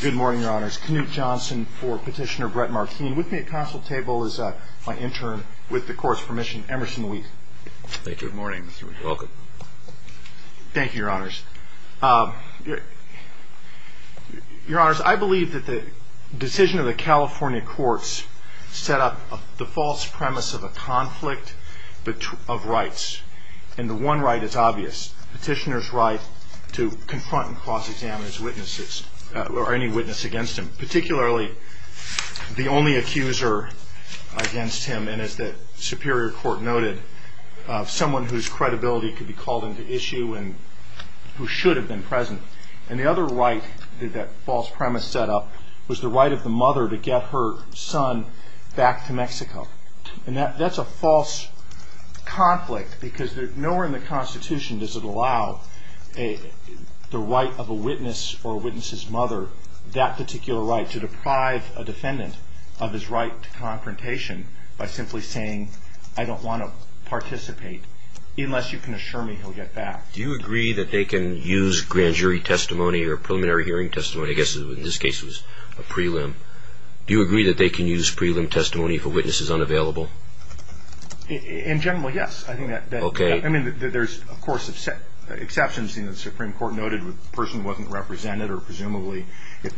Good morning, your honors. Knute Johnson for Petitioner Brett Marquis. With me at counsel table is my intern, with the court's permission, Emerson Wheat. Thank you. Good morning, Mr. Wheat. Welcome. Thank you, your honors. Your honors, I believe that the decision of the California courts set up the false premise of a conflict of rights, and the one right is obvious. Petitioner's right to confront and bar any witness against him, particularly the only accuser against him, and as the Superior Court noted, someone whose credibility could be called into issue and who should have been present. And the other right that false premise set up was the right of the mother to get her son back to Mexico. And that's a false conflict because nowhere in the Constitution does it that particular right, to deprive a defendant of his right to confrontation by simply saying, I don't want to participate, unless you can assure me he'll get back. Do you agree that they can use grand jury testimony or preliminary hearing testimony? I guess in this case it was a prelim. Do you agree that they can use prelim testimony if a witness is unavailable? In general, yes. If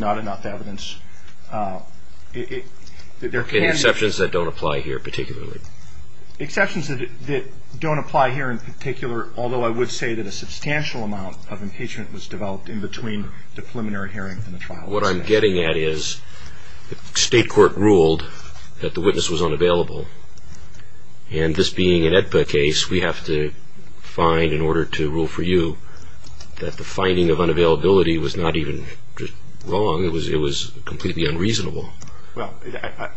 not enough evidence. Any exceptions that don't apply here, particularly? Exceptions that don't apply here in particular, although I would say that a substantial amount of impeachment was developed in between the preliminary hearing and the trial. What I'm getting at is, the state court ruled that the witness was unavailable, and this being an AEDPA case, we have to find, in order to rule for you, that the finding of unavailability was not even wrong. It was completely unreasonable. Well,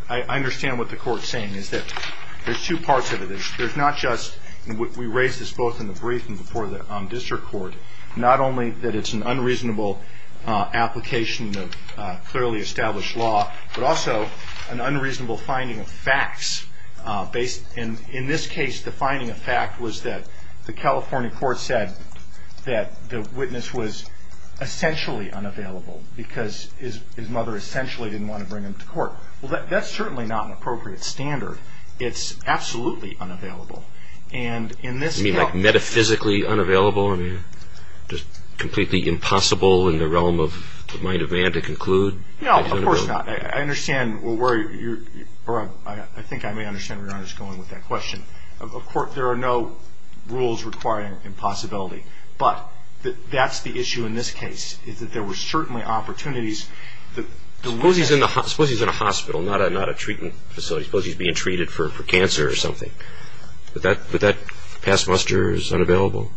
I understand what the court's saying, is that there's two parts of it. There's not just, we raised this both in the briefing before the district court, not only that it's an unreasonable application of clearly established law, but also an unreasonable finding of facts. In this case, the finding of fact was that the California courts said that the witness was essentially unavailable, because his mother essentially didn't want to bring him to court. Well, that's certainly not an appropriate standard. It's absolutely unavailable. And in this case... You mean like metaphysically unavailable? I mean, just completely impossible in the realm of, it might have been to conclude? No, of course not. I understand where you're, or I think I may understand where you're going with that question. Of course, there are no rules requiring impossibility. But that's the issue in this case, is that there were certainly opportunities that... Suppose he's in a hospital, not a treatment facility. Suppose he's being treated for cancer or something. Would that pass muster as unavailable?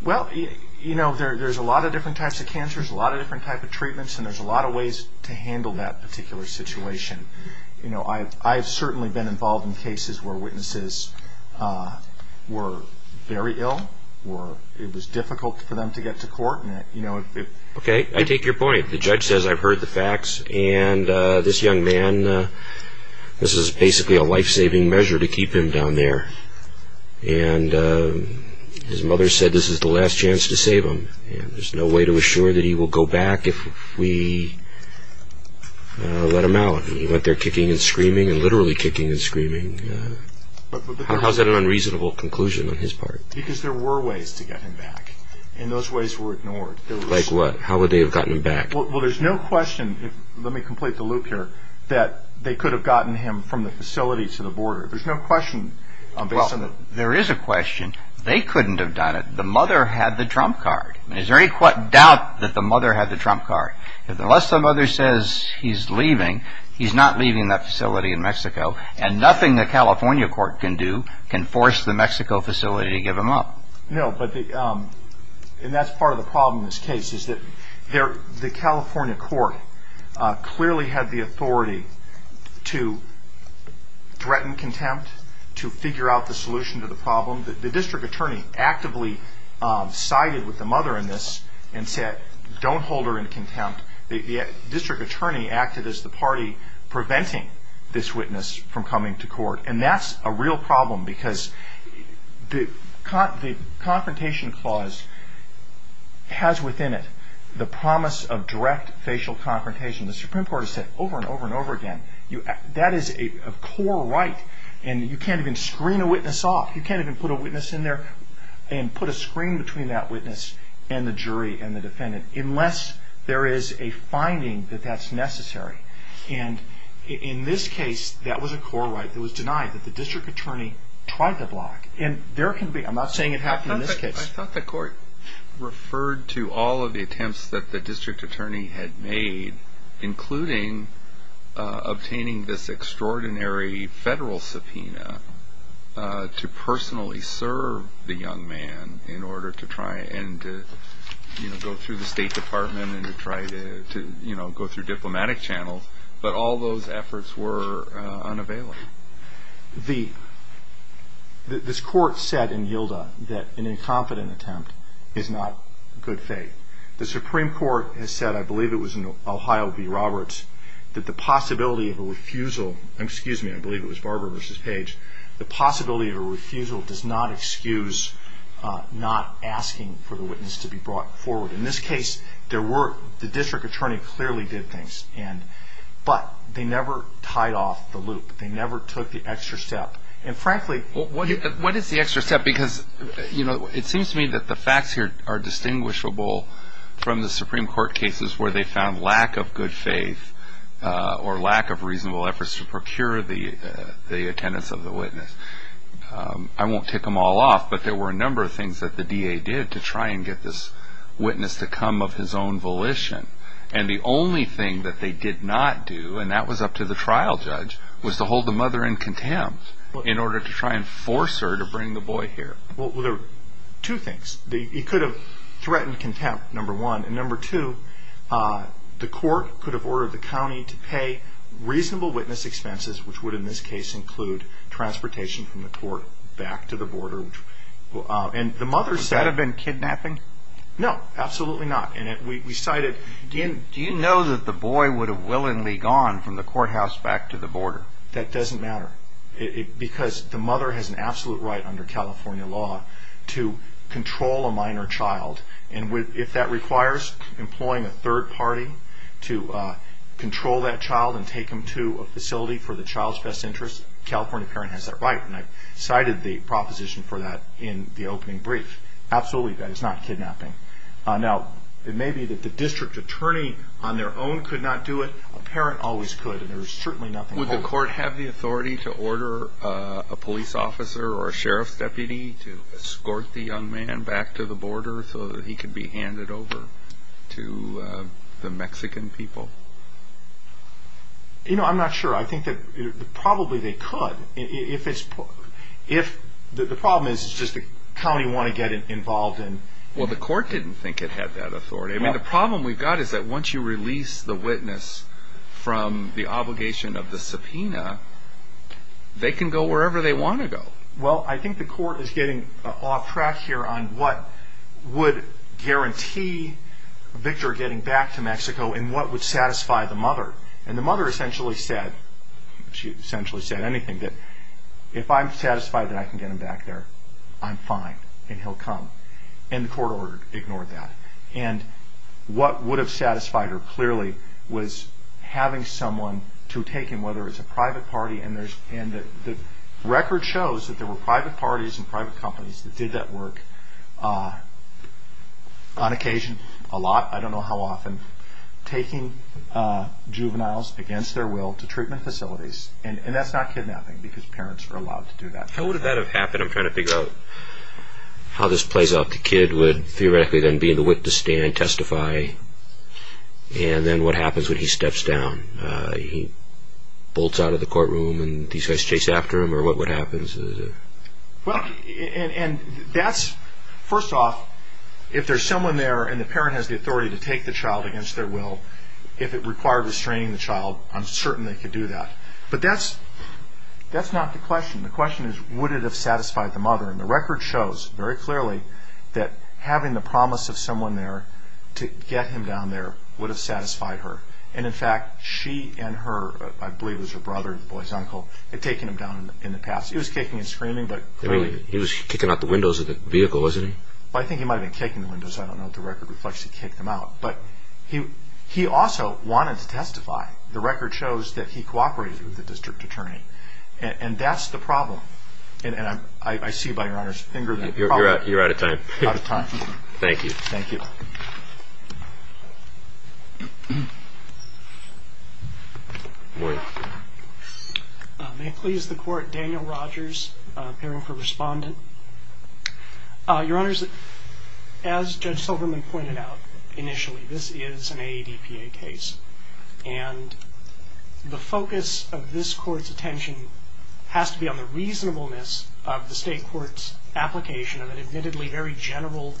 Well, you know, there's a lot of different types of cancers, a lot of different types of treatments, and there's a lot of ways to handle that particular situation. You know, I've certainly been involved in cases where witnesses were very ill, or it was difficult for them to get to court. Okay, I take your point. The judge says, I've heard the facts, and this young man, this is basically a life-saving measure to keep him down there. And his mother said this is the last chance to save him, and there's no way to assure that he will go back if we let him out. And he went there kicking and screaming, and literally kicking and screaming. How is that an unreasonable conclusion on his part? Because there were ways to get him back, and those ways were ignored. Like what? How would they have gotten him back? Well, there's no question, let me complete the loop here, that they could have gotten him from the facility to the border. There's no question based on the... Well, there is a question. They couldn't have done it. The mother had the trump card. Is there any doubt that the mother had the trump card? Unless the mother says he's leaving, he's not leaving that facility in Mexico, and nothing the California court can do can force the Mexico facility to give him up. No, but the... And that's part of the problem in this case, is that the California court clearly had the authority to threaten contempt, to figure out the solution to the problem. The district attorney actively sided with the mother in this, and said, don't hold her in contempt. The district attorney acted as the party preventing this witness from coming to court. And that's a real problem, because the confrontation clause has within it the promise of direct facial confrontation. The Supreme Court has said over and over and over And you can't even screen a witness off. You can't even put a witness in there, and put a screen between that witness and the jury and the defendant, unless there is a finding that that's necessary. And in this case, that was a core right that was denied, that the district attorney tried to block. And there can be... I'm not saying it happened in this case. I thought the court referred to all of the attempts that the district attorney had made, including obtaining this extraordinary federal subpoena to personally serve the young man, in order to try and go through the State Department, and to try to go through diplomatic channels. But all those efforts were unavailable. The... This court said in Yilda that an incompetent attempt is not good faith. The Supreme Court has said, I believe it was in Ohio v. Roberts, that the possibility of a refusal... Excuse me, I believe it was Barber v. Page. The possibility of a refusal does not excuse not asking for the witness to be brought forward. In this case, there were... The district attorney clearly did things, and... But they never tied off the loop. They never took the extra step. And frankly... Well, what is the extra step? Because, you know, it seems to me that the from the Supreme Court cases, where they found lack of good faith, or lack of reasonable efforts to procure the attendance of the witness. I won't tick them all off, but there were a number of things that the D.A. did to try and get this witness to come of his own volition. And the only thing that they did not do, and that was up to the trial judge, was to hold the mother in contempt, in order to try and force her to bring the boy here. Well, there were two things. He could have threatened contempt, number one. And number two, the court could have ordered the county to pay reasonable witness expenses, which would in this case include transportation from the court back to the border. And the mother... Would that have been kidnapping? No, absolutely not. And we cited... Do you know that the boy would have willingly gone from the courthouse back to the border? That doesn't matter. Because the mother has an absolute right under California law to control a minor child. And if that requires employing a third party to control that child and take him to a facility for the child's best interest, a California parent has that right. And I cited the proposition for that in the opening brief. Absolutely, that is not kidnapping. Now, it may be that the district attorney on their own could not do it. A parent always could, and there is certainly nothing... Would the court have the authority to order a police officer or a sheriff deputy to escort the young man back to the border so that he could be handed over to the Mexican people? You know, I'm not sure. I think that probably they could. If it's... The problem is, it's just the county wanted to get involved in... Well, the court didn't think it had that authority. I mean, the problem we've got is that once you release the witness from the obligation of the subpoena, they can go wherever they want to go. Well, I think the court is getting off track here on what would guarantee Victor getting back to Mexico and what would satisfy the mother. And the mother essentially said, she essentially said anything, that if I'm satisfied that I can get him back there, I'm fine and he'll come. And the court ignored that. And what would have satisfied her clearly was having someone to take him, whether it's a private party and there's... And the record shows that there were private parties and private companies that did that work on occasion, a lot, I don't know how often, taking juveniles against their will to treatment facilities. And that's not kidnapping because parents are allowed to do that. How would that have happened? I'm trying to figure out how this plays out. The kid would theoretically then be in the wit to stand, testify and then what happens when he steps down? He bolts out of the courtroom and these guys chase after him or what happens? Well, and that's... First off, if there's someone there and the parent has the authority to take the child against their will, if it required restraining the child, I'm certain they could do that. But that's not the question. The question is, would it have satisfied the mother? And the record shows very clearly that having the promise of someone there to get him down there would have satisfied her. And in fact, she and her, I believe it was her brother, the boy's uncle, had taken him down in the past. He was kicking and screaming, but clearly... He was kicking out the windows of the vehicle, wasn't he? Well, I think he might have been kicking the windows. I don't know what the record reflects. He kicked them out. But he also wanted to testify. The record shows that he cooperated with the district attorney. And that's the problem. And I see by your Honor's finger that probably... You're out of time. Out of time. Thank you. Thank you. Boyd. May it please the Court, Daniel Rogers, appearing for respondent. Your Honors, as Judge Silverman pointed out initially, this is an AEDPA case. And the focus of this Court's attention has to be on the reasonableness of the State Court's application of an admittedly very insufficient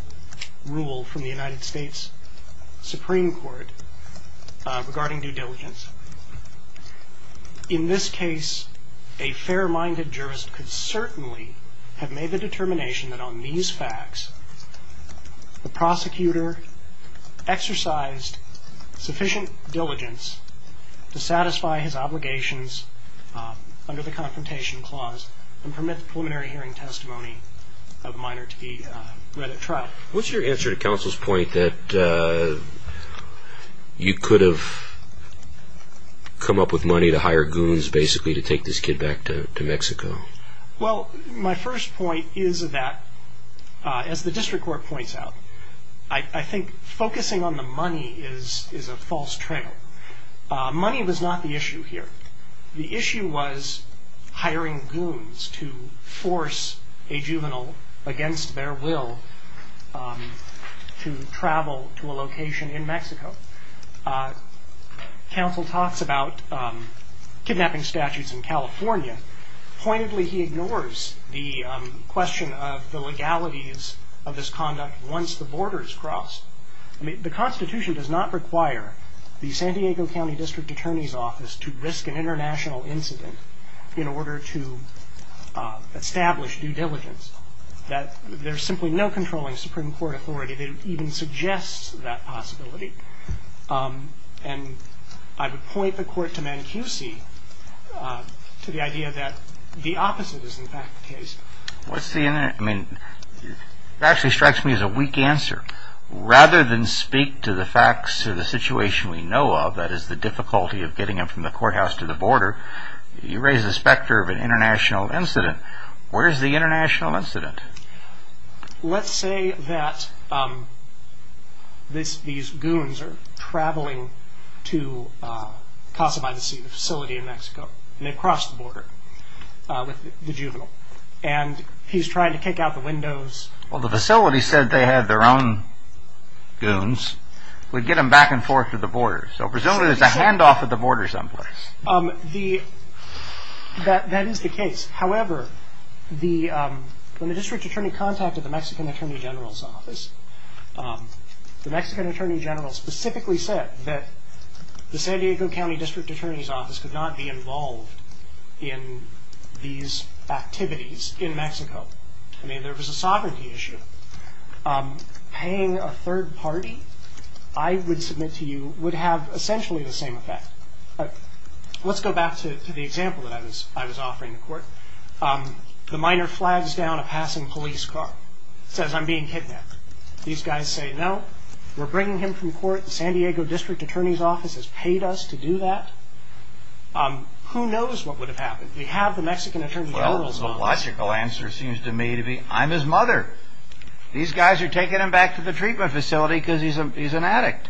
diligence. In this case, a fair-minded jurist could certainly have made the determination that on these facts, the prosecutor exercised sufficient diligence to satisfy his obligations under the Confrontation Clause and permit the preliminary hearing What's your answer to counsel's point that you could have come up with money to hire goons basically to take this kid back to Mexico? Well, my first point is that, as the district court points out, I think focusing on the money is a false trail. Money was not the issue here. The issue was hiring goons to force a juvenile against their will to travel to a location in Mexico. Counsel talks about kidnapping statutes in California. Pointedly, he ignores the question of the legalities of this conduct once the borders cross. I mean, the Constitution does not require the San Diego County District Attorney's Office to risk an international incident in order to establish due diligence. There's simply no controlling Supreme Court authority that even suggests that possibility. And I would point the court to Mancusi to the idea that the opposite is, in fact, the case. It actually strikes me as a weak answer. Rather than speak to the facts of the situation we know of, that is, the difficulty of getting him from the courthouse to the border, you raise the specter of an international incident. Where's the international incident? Let's say that these goons are traveling to Casa Maldonado, the facility in Mexico, and they cross the border with the juvenile. And he's trying to kick out the windows. Well, the facility said they had their own goons. We get them back and forth to the border. So presumably there's a handoff at the border someplace. That is the case. However, when the District Attorney contacted the Mexican Attorney General's office, the Mexican Attorney General specifically said that the San Diego County District Attorney's Office could not be involved in these activities in Mexico. I mean, there was a sovereignty issue. Paying a third party, I would submit to you, would have essentially the same effect. Let's go back to the example that I was offering the court. The minor flags down a passing police car, says, I'm being kidnapped. These guys say, no, we're bringing him from court. The San Diego District Attorney's Office has paid us to do that. Who knows what would have happened? We have the Mexican Attorney General's office. Well, the logical answer seems to me to be, I'm his mother. These guys are taking him back to the treatment facility because he's an addict.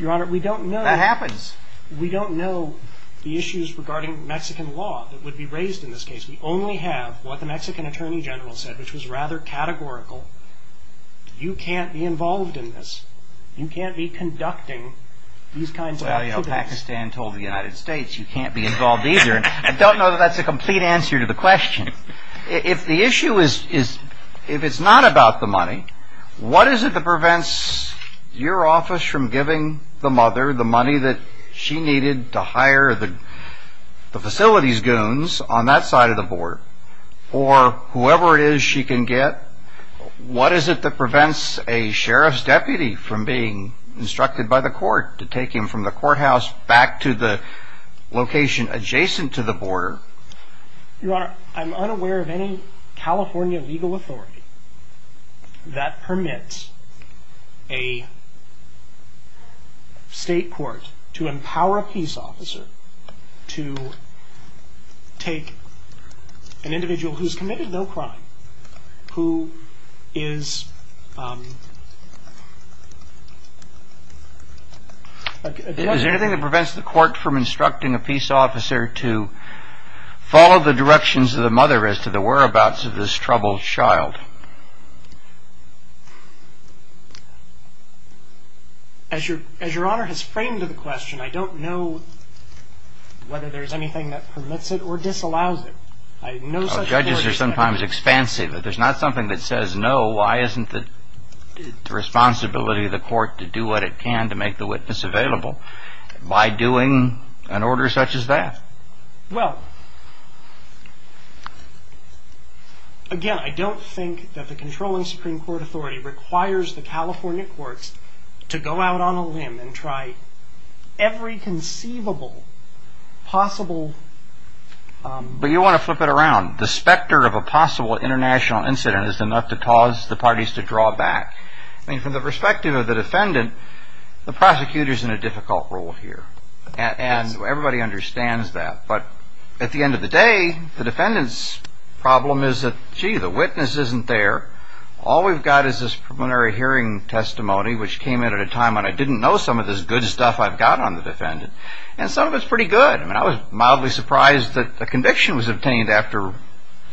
Your Honor, we don't know. That happens. We don't know the issues regarding Mexican law that would be raised in this case. We only have what the Mexican Attorney General said, which was rather categorical. You can't be involved in this. You can't be conducting these kinds of activities. Well, you know, Pakistan told the United States, you can't be involved either. I don't know that that's a complete answer to the question. If the issue is, if it's not about the money, what is it that prevents your office from giving the mother the money that she needed to hire the facility's goons on that side of the border? Or whoever it is she can get, what is it that prevents a sheriff's deputy from being instructed by the court to take him from the courthouse back to the location adjacent to the border? Your Honor, I'm unaware of any California legal authority that permits a state court to empower a peace officer to take an individual who's committed no crime, who is... Is there anything that prevents the court from instructing a peace officer to follow the directions of the mother as to the whereabouts of this troubled child? As Your Honor has framed the question, I don't know whether there's anything that permits it or disallows it. I know such a court... Judges are sometimes expansive. If there's not something that says no, why isn't it the responsibility of the court to do what it can to make the witness available by doing an order such as that? Well, again, I don't think that the controlling Supreme Court authority requires the California courts to go out on a limb and try every conceivable possible... But you want to flip it around. The specter of a possible international incident is enough to cause the parties to draw back. I mean, from the perspective of the defendant, the prosecutor's in a But at the end of the day, the defendant's problem is that, gee, the witness isn't there. All we've got is this preliminary hearing testimony which came in at a time when I didn't know some of this good stuff I've got on the defendant. And some of it's pretty good. I mean, I was mildly surprised that a conviction was obtained after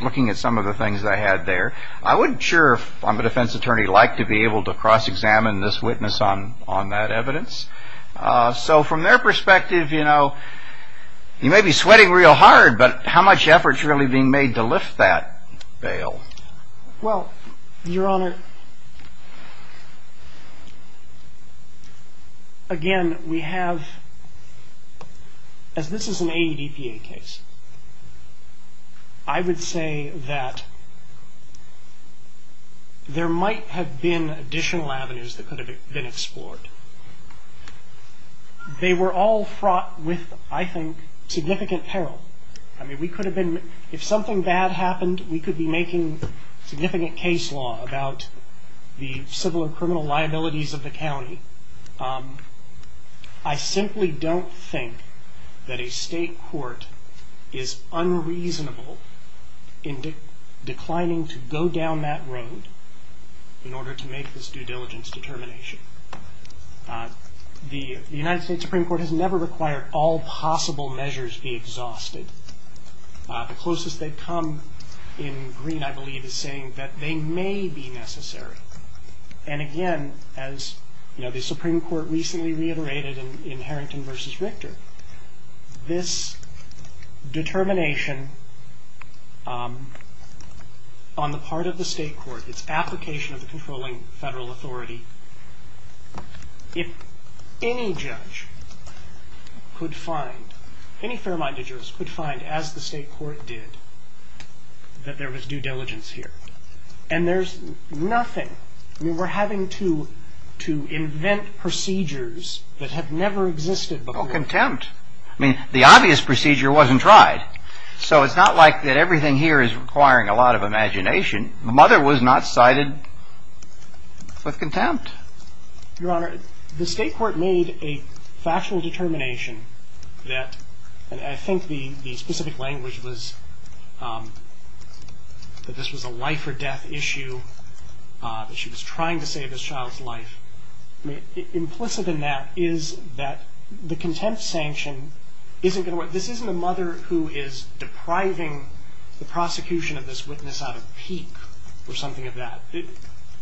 looking at some of the things that I had there. I wouldn't sure if I'm a defense attorney like to be able to cross-examine this witness on that evidence. So from their perspective, you know, you may be sweating real hard, but how much effort's really being made to lift that veil? Well, Your Honor, again, we have, as this is an AEDPA case, I would say that there might have been additional avenues that could have been explored. They were all fraught with, I think, significant peril. I mean, we could have been, if something bad happened, we could be making significant case law about the civil or criminal liabilities of the county. I simply don't think that a state court is unreasonable in declining to go down that road in order to make this due diligence determination. The United States Supreme Court has never required all possible measures be exhausted. The closest they've come in green, I believe, is saying that they Supreme Court recently reiterated in Harrington v. Richter, this determination on the part of the state court, its application of the controlling federal authority, if any judge could find, any fair-minded judge could find, as the state court did, that there was due diligence here. And there's nothing. I mean, we're having to invent procedures that have never existed before. Well, contempt. I mean, the obvious procedure wasn't tried. So it's not like that everything here is requiring a lot of imagination. Mother was not cited with contempt. Your Honor, the state court made a factual determination that, and I think the specific language was that this was a life or death issue, that she was trying to save this child's life. Implicit in that is that the contempt sanction isn't going to work. This isn't a mother who is depriving the prosecution of this witness out of pique or something of that.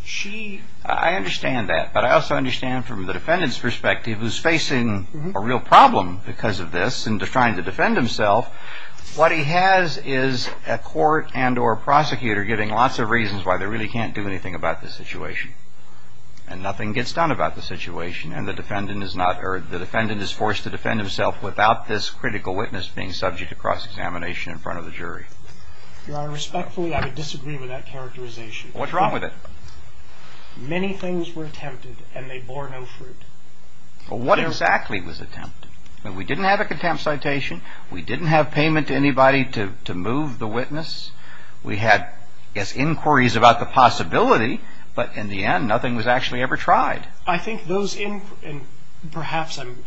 She... I understand that. But I also understand from the defendant's perspective, who's facing a real problem because of this and is trying to defend himself, what he has is a court and or prosecutor giving lots of reasons why they really can't do anything about the situation. And nothing gets done about the situation. And the defendant is not, or the defendant is forced to defend himself without this critical witness being subject to cross-examination in front of the jury. Your Honor, respectfully, I would disagree with that characterization. What's wrong with it? Many things were attempted and they bore no fruit. Well, what exactly was attempted? We didn't have a contempt citation. We didn't have payment to anybody to move the witness. We had, I guess, inquiries about the possibility, but in the end, nothing was actually ever tried. I think those, and perhaps I'm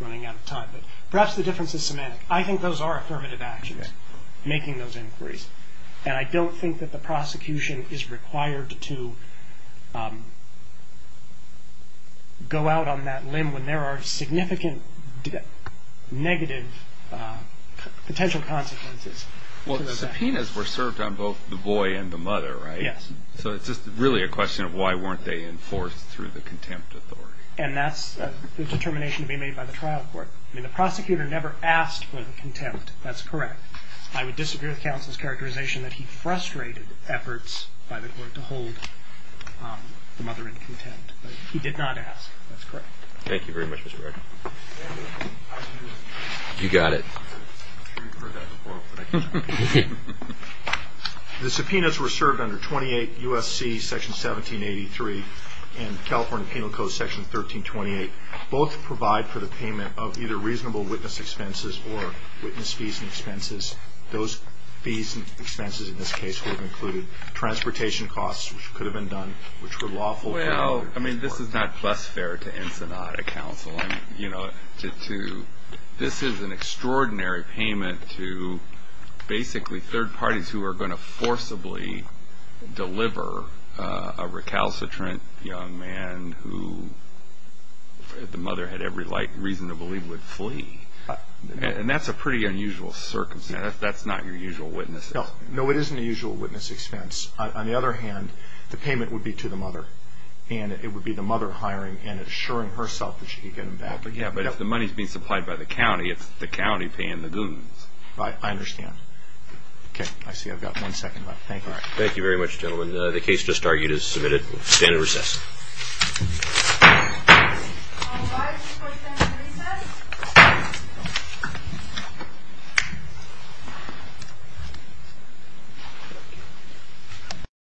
running out of time, but perhaps the difference is semantic. I think those are affirmative actions, making those required to go out on that limb when there are significant negative potential consequences. Well, the subpoenas were served on both the boy and the mother, right? Yes. So it's just really a question of why weren't they enforced through the contempt authority. And that's the determination to be made by the trial court. I mean, the prosecutor never asked for the contempt. That's correct. I would disagree with efforts by the court to hold the mother in contempt, but he did not ask. That's correct. Thank you very much, Mr. Bradford. You got it. The subpoenas were served under 28 U.S.C. Section 1783 and California Penal Code Section 1328. Both provide for the payment of either reasonable witness expenses or witness fees and expenses. Those fees and expenses in this case would have included transportation costs, which could have been done, which were lawful. Well, I mean, this is not plus fare to Ensenada Council. This is an extraordinary payment to basically third parties who are going to forcibly deliver a recalcitrant young man who the mother had every reason to believe would flee. And that's a pretty unusual circumstance. That's not your usual witness. No, it isn't a usual witness expense. On the other hand, the payment would be to the mother, and it would be the mother hiring and assuring herself that she could get him back. But yeah, but if the money's being supplied by the county, it's the county paying the goons. I understand. Okay, I see. I've got one second left. Thank you. All right. Thank you very much, gentlemen. The case just argued is submitted. We'll stand in recess. Thank you.